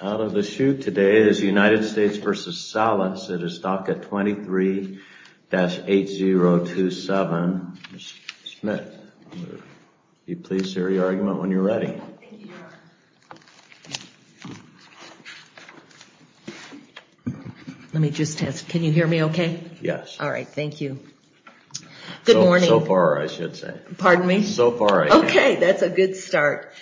out of the chute today is United States v. Salas. It is DACA 23-8027. Ms. Smith, be pleased to hear your argument when you're ready. Let me just ask, can you hear me okay? Yes. All right, thank you. Good morning. So far I should say. Pardon me? So far I can. Okay, that's a good start.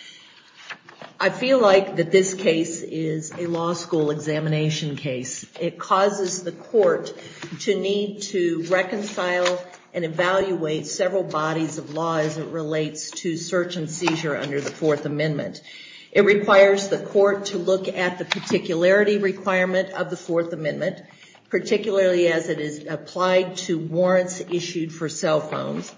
I feel like that this case is a law school examination case. It causes the court to need to reconcile and evaluate several bodies of law as it relates to search and seizure under the Fourth Amendment. It requires the court to look at the particularity requirement of the Fourth Amendment, particularly as it is applied to warrants issued for cell phones.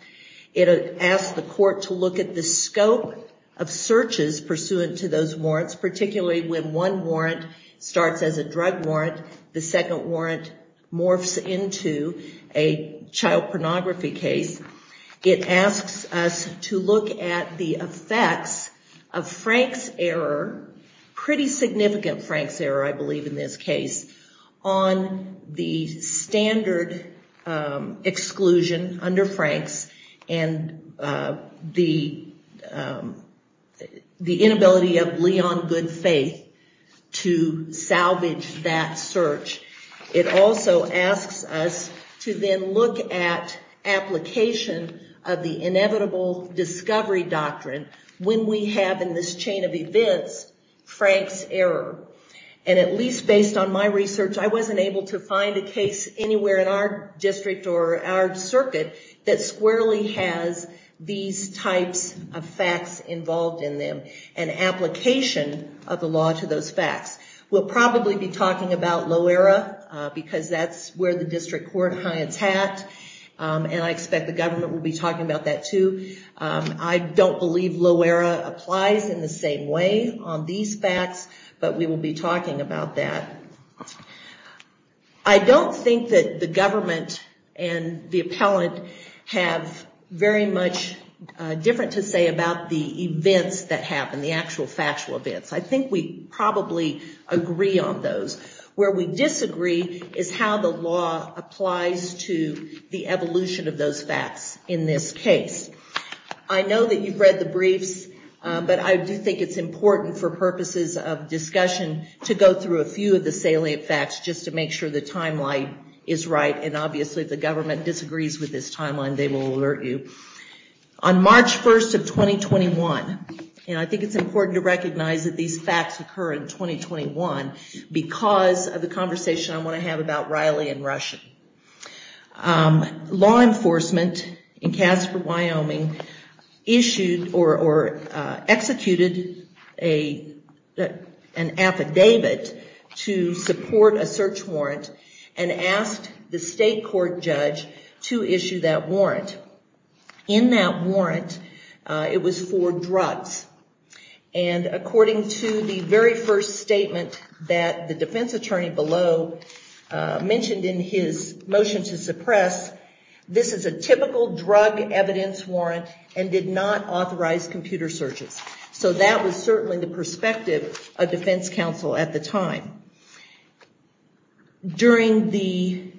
It asks the court to look at the scope of searches pursuant to those warrants, particularly when one warrant starts as a drug warrant, the second warrant morphs into a child pornography case. It asks us to look at the effects of Frank's error, pretty significant Frank's error, I believe in this case, on the standard exclusion under Frank's and the inability of Leon Goodfaith to salvage that search. It also asks us to then look at application of the inevitable discovery doctrine when we have in this chain of events Frank's error. And at least based on my research, I wasn't able to find a case anywhere in our district or our circuit that squarely has these types of facts involved in them and application of the law to those facts. We'll probably be talking about Loera because that's where the district court high attacked and I expect the government will be talking about that too. I don't believe Loera applies in the same way on these facts, but we will be talking about that. I don't think that the government and the appellant have very much different to say about the events that happen, the actual factual events. I think we probably agree on those. Where we disagree is how the law applies to the evolution of those facts in this case. I know that you've read the briefs, but I do think it's important for purposes of discussion to go through a few of the salient facts just to make sure the timeline is right and obviously if the government disagrees with this timeline, they will alert you. On March 1st of 2021, and I think it's important to recognize that these facts occur in 2021 because of the conversation I want to have about Riley and Rushen. Law enforcement in Casper, Wyoming issued or executed an affidavit to support a search warrant and asked the state court judge to issue that warrant. In that warrant, it was for drugs and according to the very first statement that the defense mentioned in his motion to suppress, this is a typical drug evidence warrant and did not authorize computer searches. So that was certainly the perspective of defense counsel at the time. During the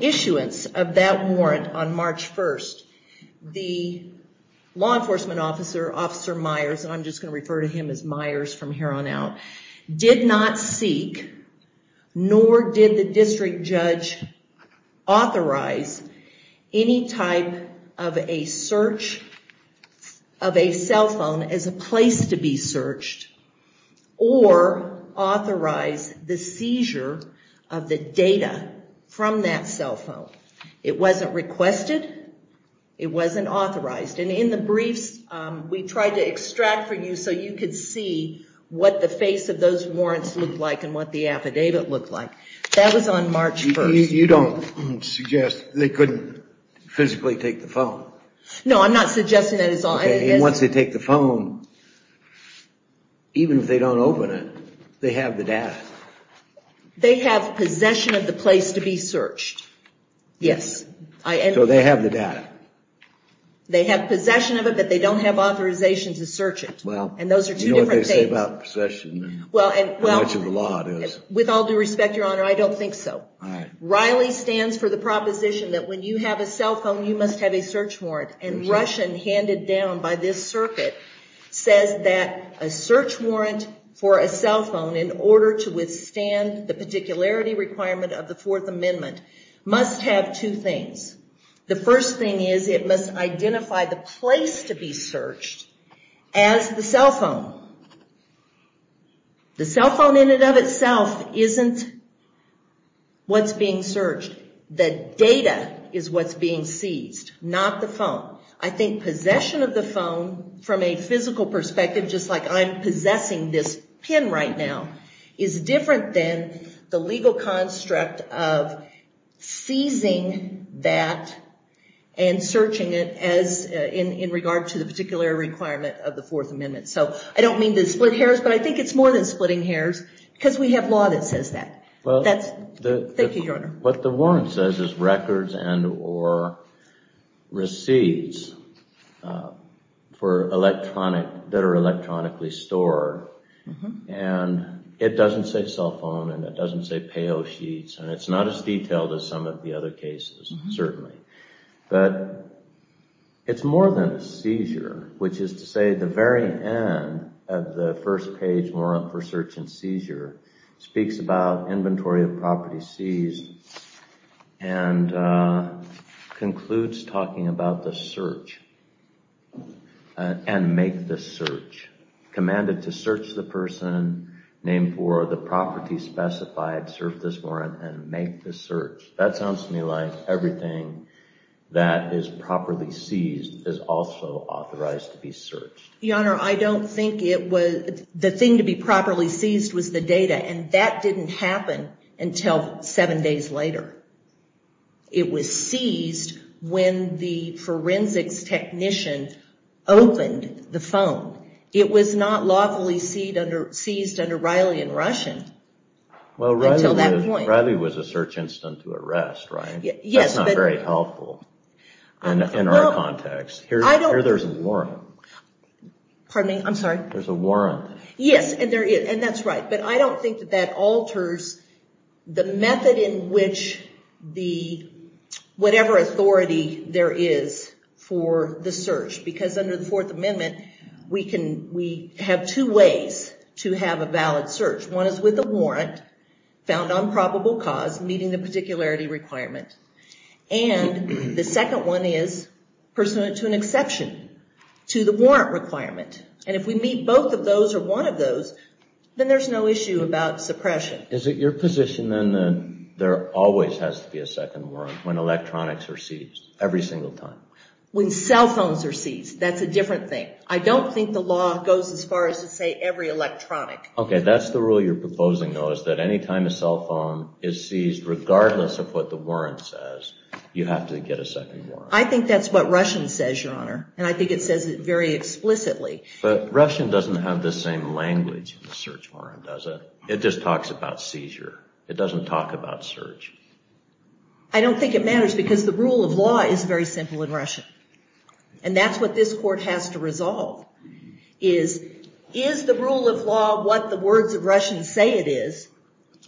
issuance of that warrant on March 1st, the law enforcement officer, Myers, and I'm just going to refer to him as Myers from here on out, did not seek nor did the district judge authorize any type of a search of a cell phone as a place to be searched or authorize the seizure of the data from that cell phone. It wasn't requested, it wasn't tried to extract for you so you could see what the face of those warrants looked like and what the affidavit looked like. That was on March 1st. You don't suggest they couldn't physically take the phone? No, I'm not suggesting that. Once they take the phone, even if they don't open it, they have the data. They have possession of the place to be searched. Yes. So they have the data. They have possession of it, but they don't have authorization to search it. Well, you know what they say about possession and how much of a law it is. With all due respect, Your Honor, I don't think so. Riley stands for the proposition that when you have a cell phone, you must have a search warrant. And Russian, handed down by this circuit, says that a search warrant for a cell phone, in order to withstand the particularity requirement of the Fourth Amendment, must have two things. The first thing is it must identify the place to be searched as the cell phone. The cell phone in and of itself isn't what's being searched. The data is what's being seized, not the phone. I think possession of the phone, from a physical perspective, just like I'm possessing this pin right now, is different than the legal construct of seizing that and searching it as in regard to the particular requirement of the Fourth Amendment. So I don't mean to split hairs, but I think it's more than splitting hairs, because we have law that says that. Thank you, Your Honor. What the warrant says is records and or receipts for electronic, that are electronically stored. And it doesn't say cell phone, and it doesn't say payo sheets, and it's not as detailed as some of the other cases, certainly. But it's more than a seizure, which is to say the very end of the first page, more for search and seizure, speaks about inventory of property seized, and concludes talking about the search, and make the search. Commanded to search the person, named for the property specified, serve this warrant, and make the search. That sounds to me like everything that is properly seized is also authorized to be searched. Your Honor, I don't think it was. The thing to be properly seized was the data, and that didn't happen until seven days later. It was seized when the forensics technician opened the phone. It was not lawfully seized under Riley and Rushen until that point. Well, Riley was a search instant to arrest, right? That's not very helpful in our context. Here there's a warrant. Pardon me, I'm sorry. There's a warrant. Yes, and that's what alters the method in which whatever authority there is for the search. Because under the Fourth Amendment, we have two ways to have a valid search. One is with a warrant, found on probable cause, meeting the particularity requirement. And the second one is pursuant to an exception, to the warrant requirement. And if we meet both of those or one of those, then there's no issue about suppression. Is it your position then that there always has to be a second warrant when electronics are seized, every single time? When cell phones are seized, that's a different thing. I don't think the law goes as far as to say every electronic. Okay, that's the rule you're proposing, though, is that any time a cell phone is seized, regardless of what the warrant says, you have to get a second warrant. I think that's what Rushen says, Your Honor, and I think it says it very explicitly. But Rushen doesn't have the same language in the search warrant, does it? It just talks about seizure. It doesn't talk about search. I don't think it matters, because the rule of law is very simple in Rushen, and that's what this Court has to resolve, is, is the rule of law what the words of Rushen say it is,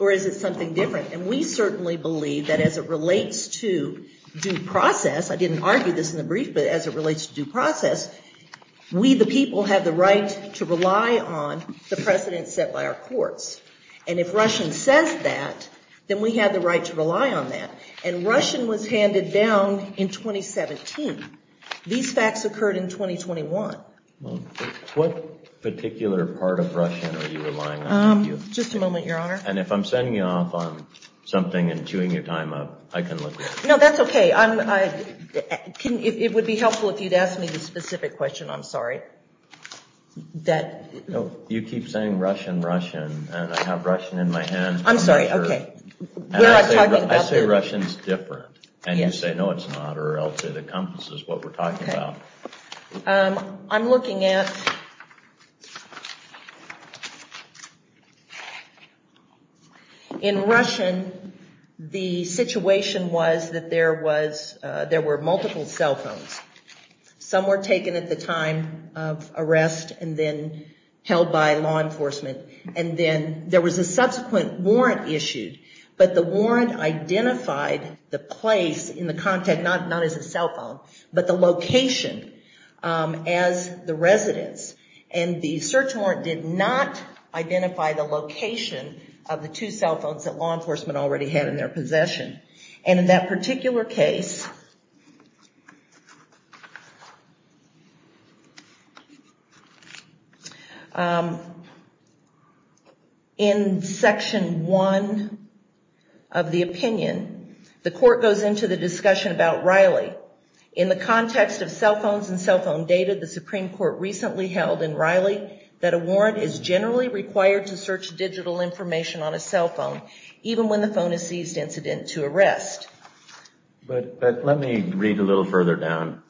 or is it something different? And we certainly believe that as it relates to due process, I didn't argue this in the brief, but as it relates to due process, we the people have the right to rely on the precedence set by our courts. And if Rushen says that, then we have the right to rely on that. And Rushen was handed down in 2017. These facts occurred in 2021. What particular part of Rushen are you relying on? Just a moment, Your Honor. And if I'm sending you off on something and chewing your time up, I can look at it. No, that's okay. It would be helpful if you'd ask me the specific question. I'm sorry. You keep saying Rushen, Rushen, and I have Rushen in my hand. I'm sorry. Okay. I say Rushen's different, and you say, no, it's not, or else it encompasses what we're talking about. I'm looking at... In Rushen, the situation was that there were multiple cell phones. Some were taken at the time of arrest and then held by law enforcement. And then there was a subsequent warrant issued, but the warrant identified the place in the content, not as a location, but the location as the residence. And the search warrant did not identify the location of the two cell phones that law enforcement already had in their possession. And in that particular case, in section one of the opinion, the court goes into the discussion about Riley. In the context of cell phones and cell phone data, the Supreme Court recently held in Riley that a warrant is generally required to search digital information on a cell phone, even when the phone is seized incident to further down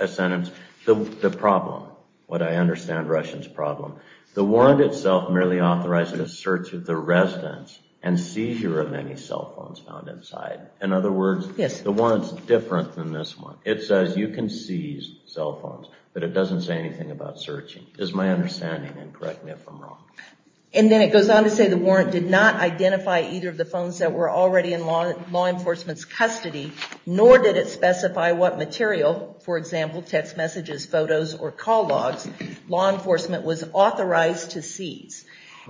a sentence. The problem, what I understand Rushen's problem, the warrant itself merely authorizes a search of the residence and seizure of any cell phones found inside. In other words, the warrant's different than this one. It says you can seize cell phones, but it doesn't say anything about searching, is my understanding, and correct me if I'm wrong. And then it goes on to say the warrant did not identify either of the phones that were already in law enforcement's material, for example, text messages, photos, or call logs. Law enforcement was authorized to seize.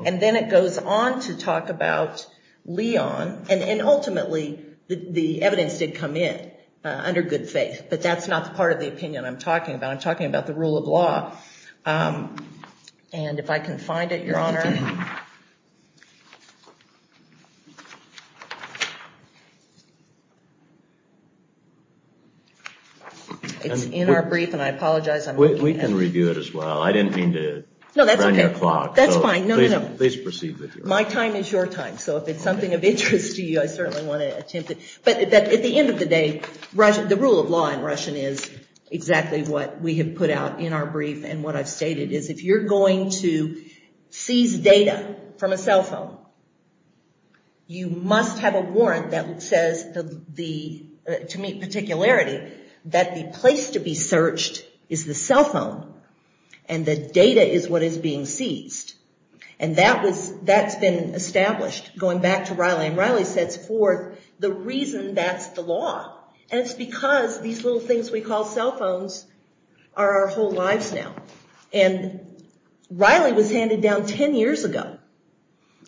And then it goes on to talk about Leon, and ultimately the evidence did come in under good faith, but that's not the part of the opinion I'm talking about. I'm talking about the rule of law. And if I can find it, Your Honor. It's in our brief, and I apologize. We can review it as well. I didn't mean to run your clock. That's fine. Please proceed with it. My time is your time, so if it's something of interest to you, I certainly want to attempt it. But at the end of the day, the rule of law in Russian is exactly what we have put out in our brief, and what I've stated is, if you're going to seize data from a cell phone, you must have a warrant that says, to meet particularity, that the place to be searched is the cell phone, and the data is what is being seized. And that's been established, going back to Riley. And Riley sets forth the reason that's the law. And it's because these little things we call cell phones are our whole lives now. And Riley was handed down 10 years ago.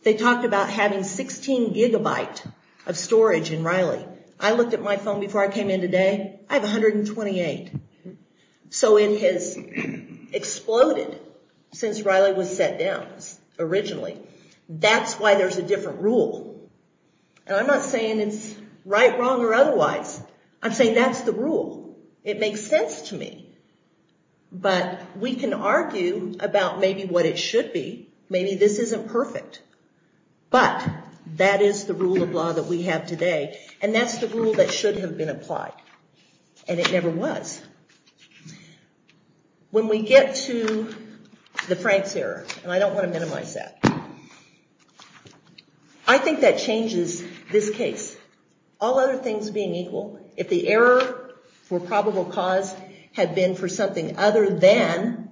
They talked about having 16 gigabyte of storage in Riley. I looked at my phone before I came in today. I have 128. So it has exploded since Riley was set down, originally. That's why there's a different rule. And I'm not saying it's right, wrong, or otherwise. I'm saying that's the rule. It makes sense to me. But we can argue about maybe what it should be. Maybe this isn't perfect. But that is the rule of law that we have today, and that's the rule that should have been applied. And it never was. When we get to the Frank's error, and I don't want to minimize that, I think that changes this case. All other things being equal, if the error for probable cause had been for something other than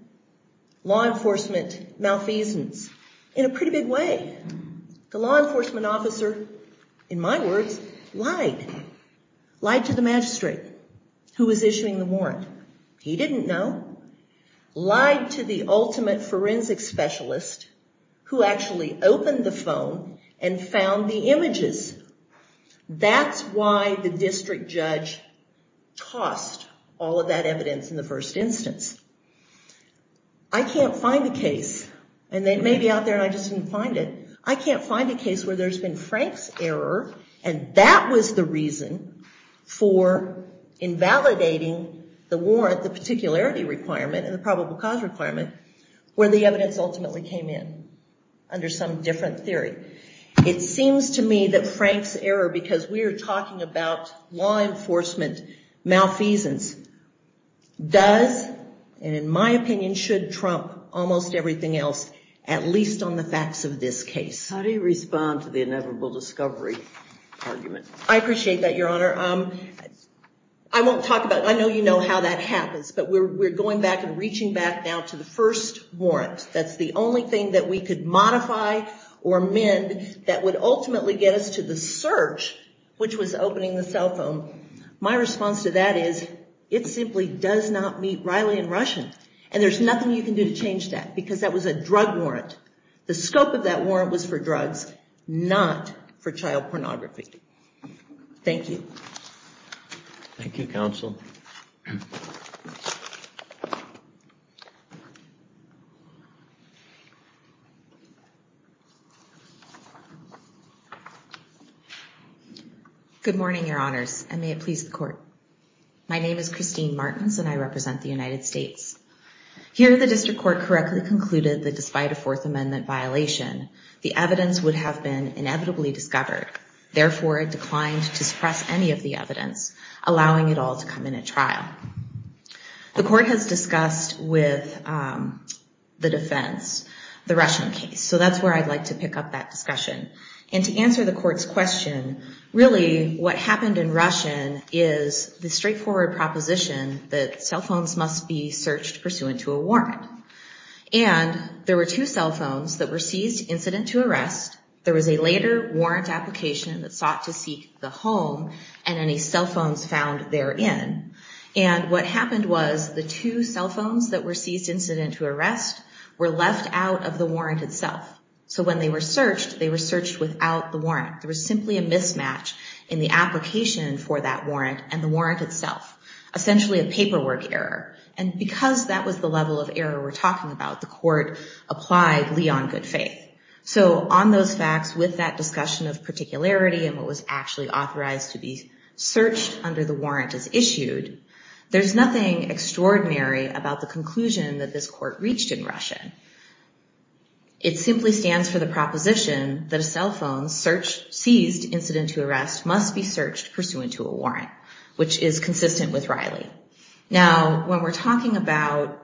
law enforcement malfeasance, in a pretty big way, the law enforcement officer, in my words, lied. Lied to the magistrate who was issuing the warrant. He didn't know. Lied to the ultimate forensic specialist who actually opened the phone and found the images. That's why the district judge tossed all of that evidence in the first instance. I can't find a case, and it may be out there and I just didn't find it, I can't find a case where there's been Frank's error, and that was the reason for invalidating the warrant, the particularity requirement, and the probable cause requirement, where the evidence ultimately came in under some different theory. It seems to me that Frank's error, because we are talking about law enforcement malfeasance, does, and in my opinion, should trump almost everything else, at least on the facts of this case. How do you respond to the inevitable discovery argument? I appreciate that, Your Honor. I won't talk about, I know you know how that happens, but we're going back and reaching back now to the first warrant. That's the only thing that we could modify or amend that would ultimately get us to the search, which was opening the cell phone. My response to that is, it simply does not meet Riley and Rushen, and there's nothing you can do to change that, because that was a drug warrant. The scope of that warrant was for drugs, not for child pornography. Thank you. Thank you, Counsel. Good morning, Your Honors, and may it please the Court. My name is Christine Martins, and I was asked to speak on a case that I think is a self-amendment violation. The evidence would have been inevitably discovered. Therefore, I declined to suppress any of the evidence, allowing it all to come in at trial. The Court has discussed with the defense the Rushen case. So, that's where I'd like to pick up that discussion, and to answer the Court's question, really, what happened in Rushen is the straightforward proposition that cell phones must be searched pursuant to a warrant, and there were two cell phones that were seized incident to arrest. There was a later warrant application that sought to seek the home, and any cell phones found therein, and what happened was the two cell phones that were seized incident to arrest were left out of the warrant itself. So, when they were searched, they were searched without the warrant. There was simply a mismatch in the application for that warrant, and the warrant itself. Essentially, a paperwork error, and because that was the level of error we're talking about, the Court applied Lee on good faith. So, on those facts, with that discussion of particularity, and what was actually authorized to be searched under the warrant as issued, there's nothing extraordinary about the conclusion that this Court reached in Rushen. It simply stands for the proposition that a cell phone search, seized incident to arrest, must be searched pursuant to a warrant, which is consistent with Riley. Now, when we're talking about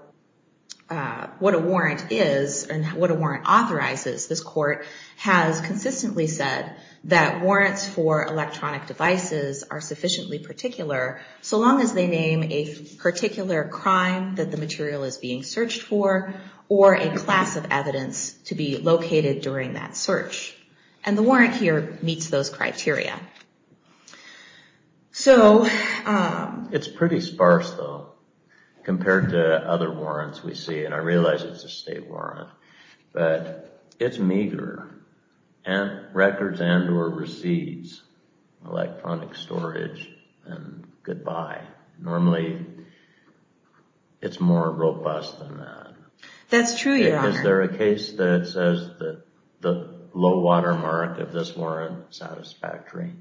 what a warrant is, and what a warrant authorizes, this Court has consistently said that warrants for electronic devices are sufficiently particular, so long as they name a particular crime that the material is being searched for, or a class of evidence to be located during that search, and the warrant here meets those criteria. So, it's pretty sparse, though, compared to other warrants we see, and I realize it's a state warrant, but it's meager, and records and or receipts, electronic storage, and goodbye. Normally, it's more robust than that. That's true, Your Honor. Is there a case that says that the low watermark of this warrant is satisfactory?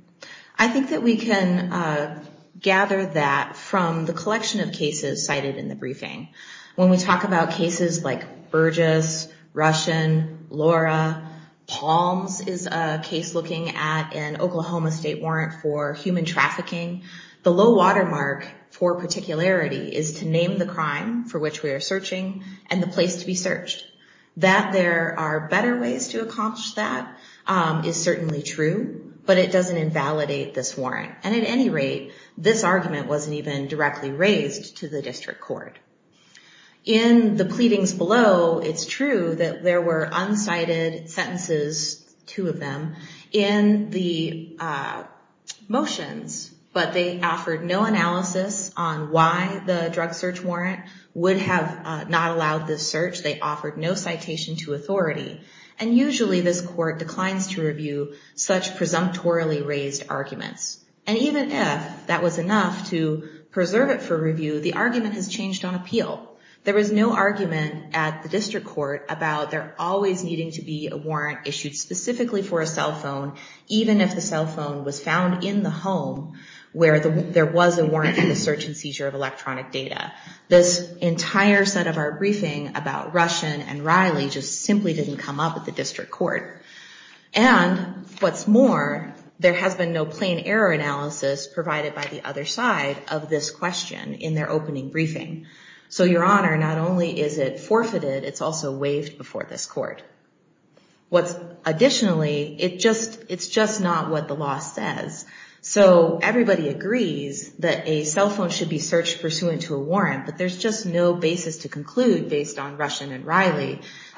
I think that we can gather that from the collection of cases cited in the briefing. When we talk about cases like Burgess, Rushen, Laura, Palms is a case looking at an Oklahoma state warrant for human trafficking, the low watermark for particularity is to name the crime for which we are searching, and the place to be searched. That there are better ways to accomplish that is certainly true, but it doesn't invalidate this warrant, and at any rate, this argument wasn't even directly raised to the District Court. In the pleadings below, it's true that there were unsighted sentences, two of them, in the motions, but they offered no analysis on why the drug search warrant would have not allowed this citation to authority, and usually, this court declines to review such presumptorily raised arguments, and even if that was enough to preserve it for review, the argument has changed on appeal. There was no argument at the District Court about there always needing to be a warrant issued specifically for a cell phone, even if the cell phone was found in the home where there was a warrant for the search and seizure of electronic data. This entire set of our briefing about Rushen and Riley just simply didn't come up at the District Court, and what's more, there has been no plain error analysis provided by the other side of this question in their opening briefing, so Your Honor, not only is it forfeited, it's also waived before this court. Additionally, it's just not what the law says, so everybody agrees that a cell phone should be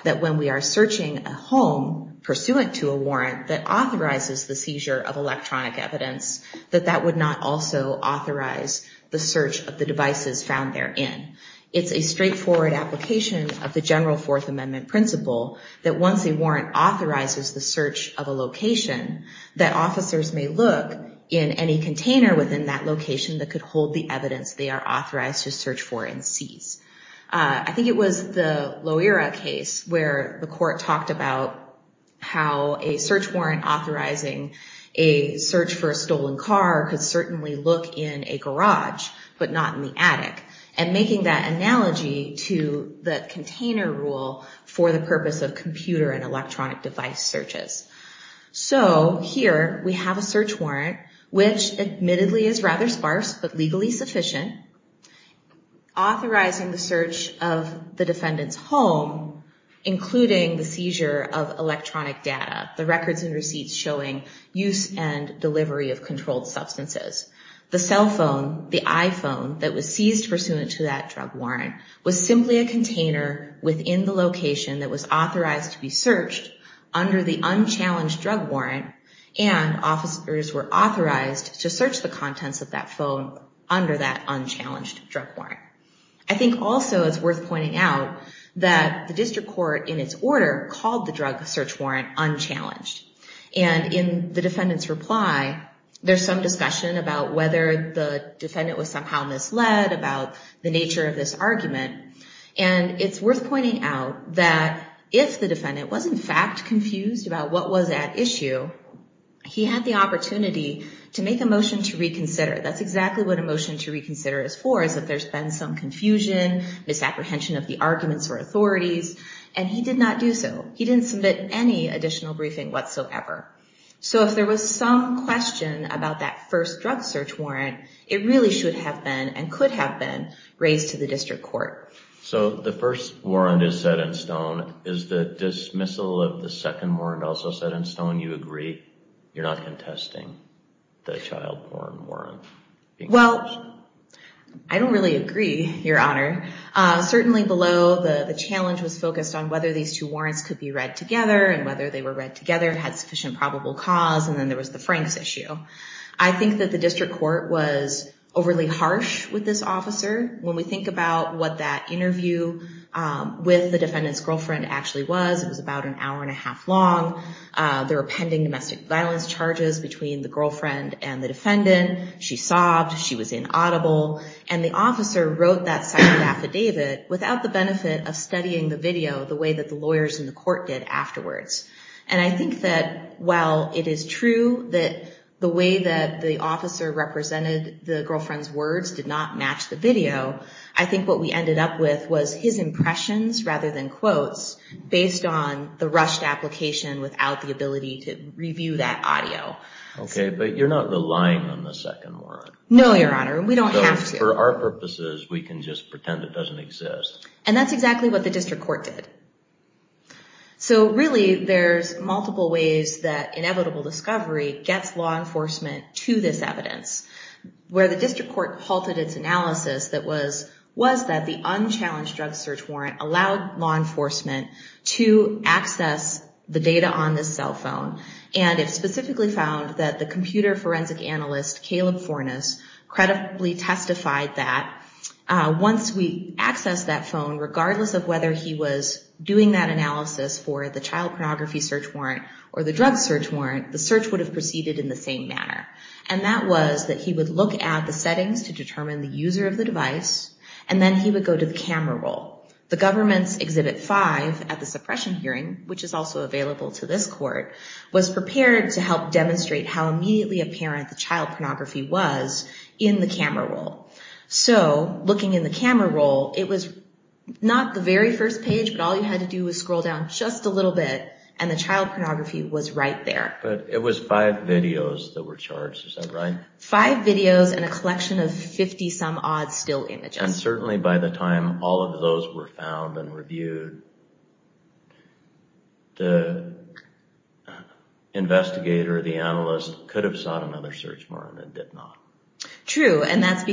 that when we are searching a home pursuant to a warrant that authorizes the seizure of electronic evidence, that that would not also authorize the search of the devices found therein. It's a straightforward application of the general Fourth Amendment principle that once a warrant authorizes the search of a location, that officers may look in any container within that location that could the evidence they are authorized to search for and seize. I think it was the Loera case where the court talked about how a search warrant authorizing a search for a stolen car could certainly look in a garage, but not in the attic, and making that analogy to the container rule for the purpose of computer and electronic device searches. So here we have a search warrant, which admittedly is rather sparse, but legally sufficient, authorizing the search of the defendant's home, including the seizure of electronic data, the records and receipts showing use and delivery of controlled substances. The cell phone, the iPhone that was seized pursuant to that drug warrant, was simply a container within the location that was authorized to be searched under the unchallenged drug warrant, and officers were authorized to search the contents of that phone under that unchallenged drug warrant. I think also it's worth pointing out that the district court, in its order, called the drug search warrant unchallenged, and in the defendant's reply, there's some discussion about whether the defendant was somehow misled, about the nature of this argument, and it's worth pointing out that if the defendant was in fact confused about what was at issue, he had the opportunity to make a motion to reconsider. That's exactly what a motion to reconsider is for, is if there's been some confusion, misapprehension of the arguments or authorities, and he did not do so. He didn't submit any additional briefing whatsoever. So if there was some question about that first drug search warrant, it really should have been, and could have been, raised to the district court. So the first warrant is set in stone. Is the dismissal of the second warrant also set in stone? You agree you're not contesting the child porn warrant? Well, I don't really agree, Your Honor. Certainly below, the challenge was focused on whether these two warrants could be read together, and whether they were read together and had sufficient probable cause, and then there was the Franks issue. I think that the district court was overly harsh with this officer. When we think about what that interview with the girlfriend actually was, it was about an hour and a half long. There were pending domestic violence charges between the girlfriend and the defendant. She sobbed, she was inaudible, and the officer wrote that second affidavit without the benefit of studying the video the way that the lawyers in the court did afterwards. And I think that while it is true that the way that the officer represented the girlfriend's words did not match the video, I think what we based on the rushed application without the ability to review that audio. Okay, but you're not relying on the second warrant. No, Your Honor, we don't have to. For our purposes, we can just pretend it doesn't exist. And that's exactly what the district court did. So really, there's multiple ways that inevitable discovery gets law enforcement to this evidence. Where the district court halted its analysis that was that the unchallenged drug search warrant allowed law enforcement to access the data on this cell phone. And it specifically found that the computer forensic analyst, Caleb Fornes, credibly testified that once we accessed that phone, regardless of whether he was doing that analysis for the child pornography search warrant or the drug search warrant, the search would have proceeded in the same manner. And that was that he would look at the settings to determine the user of the device, and then he would go to the government's Exhibit 5 at the suppression hearing, which is also available to this court, was prepared to help demonstrate how immediately apparent the child pornography was in the camera roll. So looking in the camera roll, it was not the very first page, but all you had to do was scroll down just a little bit, and the child pornography was right there. But it was five videos that were charged, is that right? Five videos and a collection of 50-some-odd still images. And certainly by the time all of those were found and reviewed, the investigator, the analyst, could have sought another search warrant and did not. True, and that's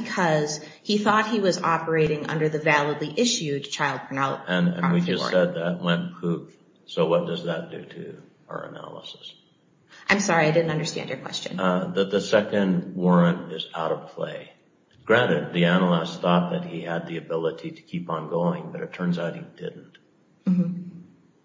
because he thought he was operating under the validly issued child pornography warrant. And we just said that went poof. So what does that do to our analysis? I'm sorry, I didn't know that he had the ability to keep on going, but it turns out he didn't.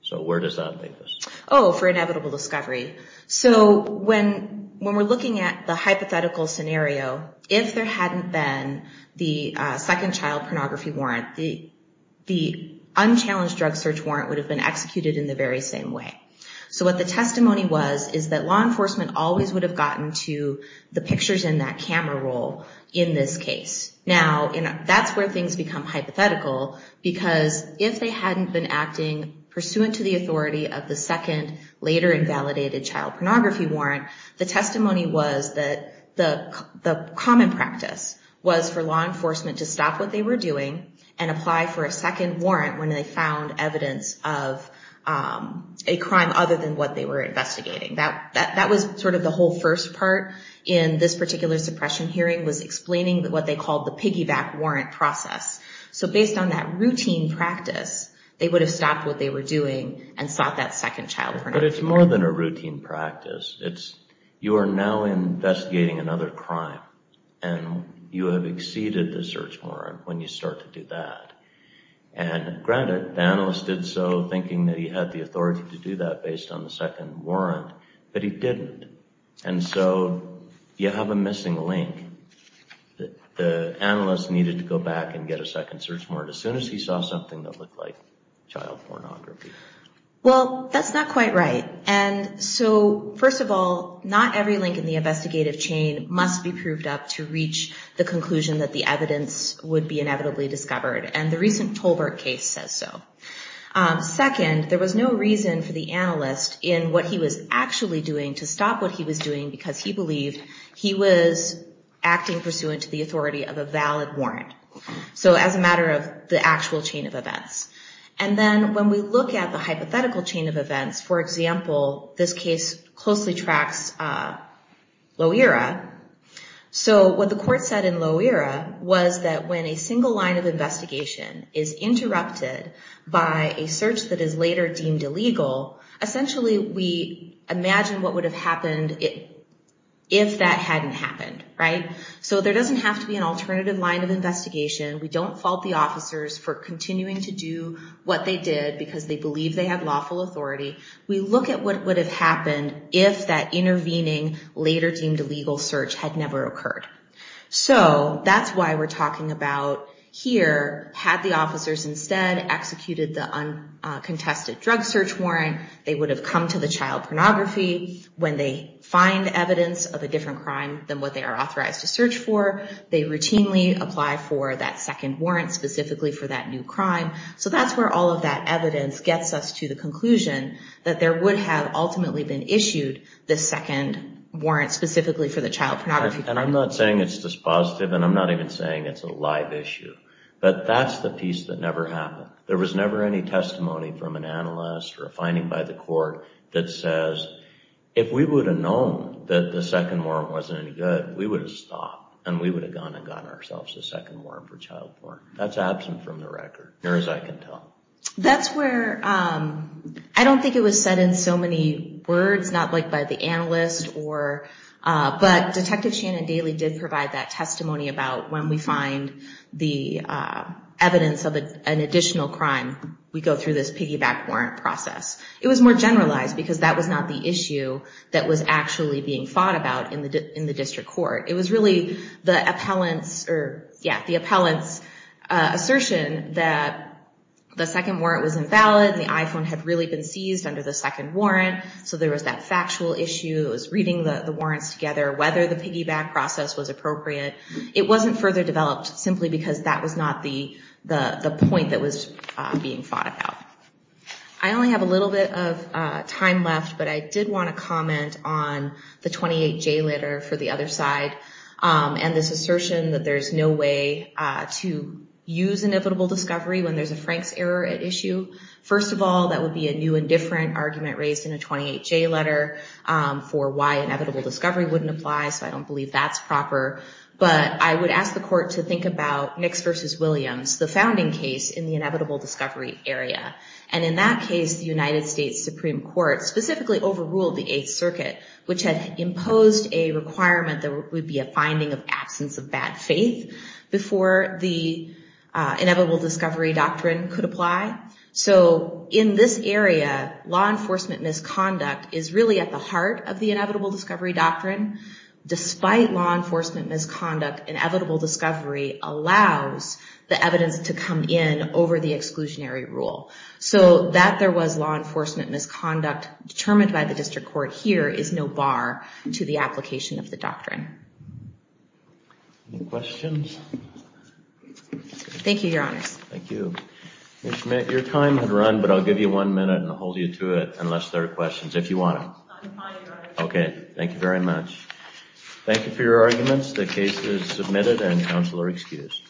So where does that leave us? Oh, for inevitable discovery. So when we're looking at the hypothetical scenario, if there hadn't been the second child pornography warrant, the unchallenged drug search warrant would have been executed in the very same way. So what the testimony was is that law enforcement always would have gotten to the pictures in that camera roll in this case. Now, that's where things become hypothetical, because if they hadn't been acting pursuant to the authority of the second later invalidated child pornography warrant, the testimony was that the common practice was for law enforcement to stop what they were doing and apply for a second warrant when they found evidence of a crime other than what they were investigating. That was sort of the whole first part in this particular suppression hearing, was explaining what they called the piggyback warrant process. So based on that routine practice, they would have stopped what they were doing and sought that second child pornography warrant. But it's more than a routine practice. You are now investigating another crime, and you have exceeded the search warrant when you start to do that. And granted, the analyst did so thinking that he had the authority to do that based on the second warrant, but he didn't. And so you have a missing link. The analyst needed to go back and get a second search warrant as soon as he saw something that looked like child pornography. Well, that's not quite right. And so first of all, not every link in the investigative chain must be proved up to reach the conclusion that the evidence would be inevitably discovered. And the recent Tolbert case says so. Second, there was no reason for the analyst in what he was actually doing to stop what he was doing because he believed he was acting pursuant to the authority of a valid warrant. So as a matter of the actual chain of events. And then when we look at the hypothetical chain of events, for example, this case closely tracks Loera. So what the court said in Loera was that when a single line of investigation is deemed illegal, essentially we imagine what would have happened if that hadn't happened. So there doesn't have to be an alternative line of investigation. We don't fault the officers for continuing to do what they did because they believe they had lawful authority. We look at what would have happened if that intervening, later deemed illegal search had never occurred. So that's why we're talking about here, had the officers instead executed the uncontested drug search warrant, they would have come to the child pornography. When they find evidence of a different crime than what they are authorized to search for, they routinely apply for that second warrant specifically for that new crime. So that's where all of that evidence gets us to the conclusion that there would have ultimately been issued the second warrant specifically for the child pornography crime. And I'm not saying it's dispositive, and I'm not even saying it's a live issue, but that's the piece that never happened. There was never any testimony from an analyst or a finding by the court that says, if we would have known that the second warrant wasn't any good, we would have stopped and we would have gone and gotten ourselves a second warrant for child porn. That's absent from the record, near as I can tell. That's where, I don't think it was said in so many words, not by the analyst, but Detective Shannon Daly did provide that testimony about when we find the evidence of an additional crime, we go through this piggyback warrant process. It was more generalized because that was not the The second warrant was invalid, the iPhone had really been seized under the second warrant, so there was that factual issue, it was reading the warrants together, whether the piggyback process was appropriate. It wasn't further developed simply because that was not the point that was being thought about. I only have a little bit of time left, but I did want to comment on the 28J letter for the other side and this assertion that there's no way to use inevitable discovery when there's a Franks error at issue. First of all, that would be a new and different argument raised in a 28J letter for why inevitable discovery wouldn't apply, so I don't believe that's proper. But I would ask the court to think about Nix v. Williams, the founding case in the inevitable discovery area. And in that case, the United States Supreme Court specifically overruled the Eighth Circuit, which had passed the Eighth before the inevitable discovery doctrine could apply. So in this area, law enforcement misconduct is really at the heart of the inevitable discovery doctrine. Despite law enforcement misconduct, inevitable discovery allows the evidence to come in over the exclusionary rule. So that there was law enforcement misconduct determined by the district court here is no bar to the application of the doctrine. Any questions? Thank you, Your Honors. Thank you. Ms. Schmidt, your time has run, but I'll give you one minute and hold you to it unless there are questions, if you want to. Okay, thank you very much. Thank you for your arguments. The case is submitted and counsel are excused.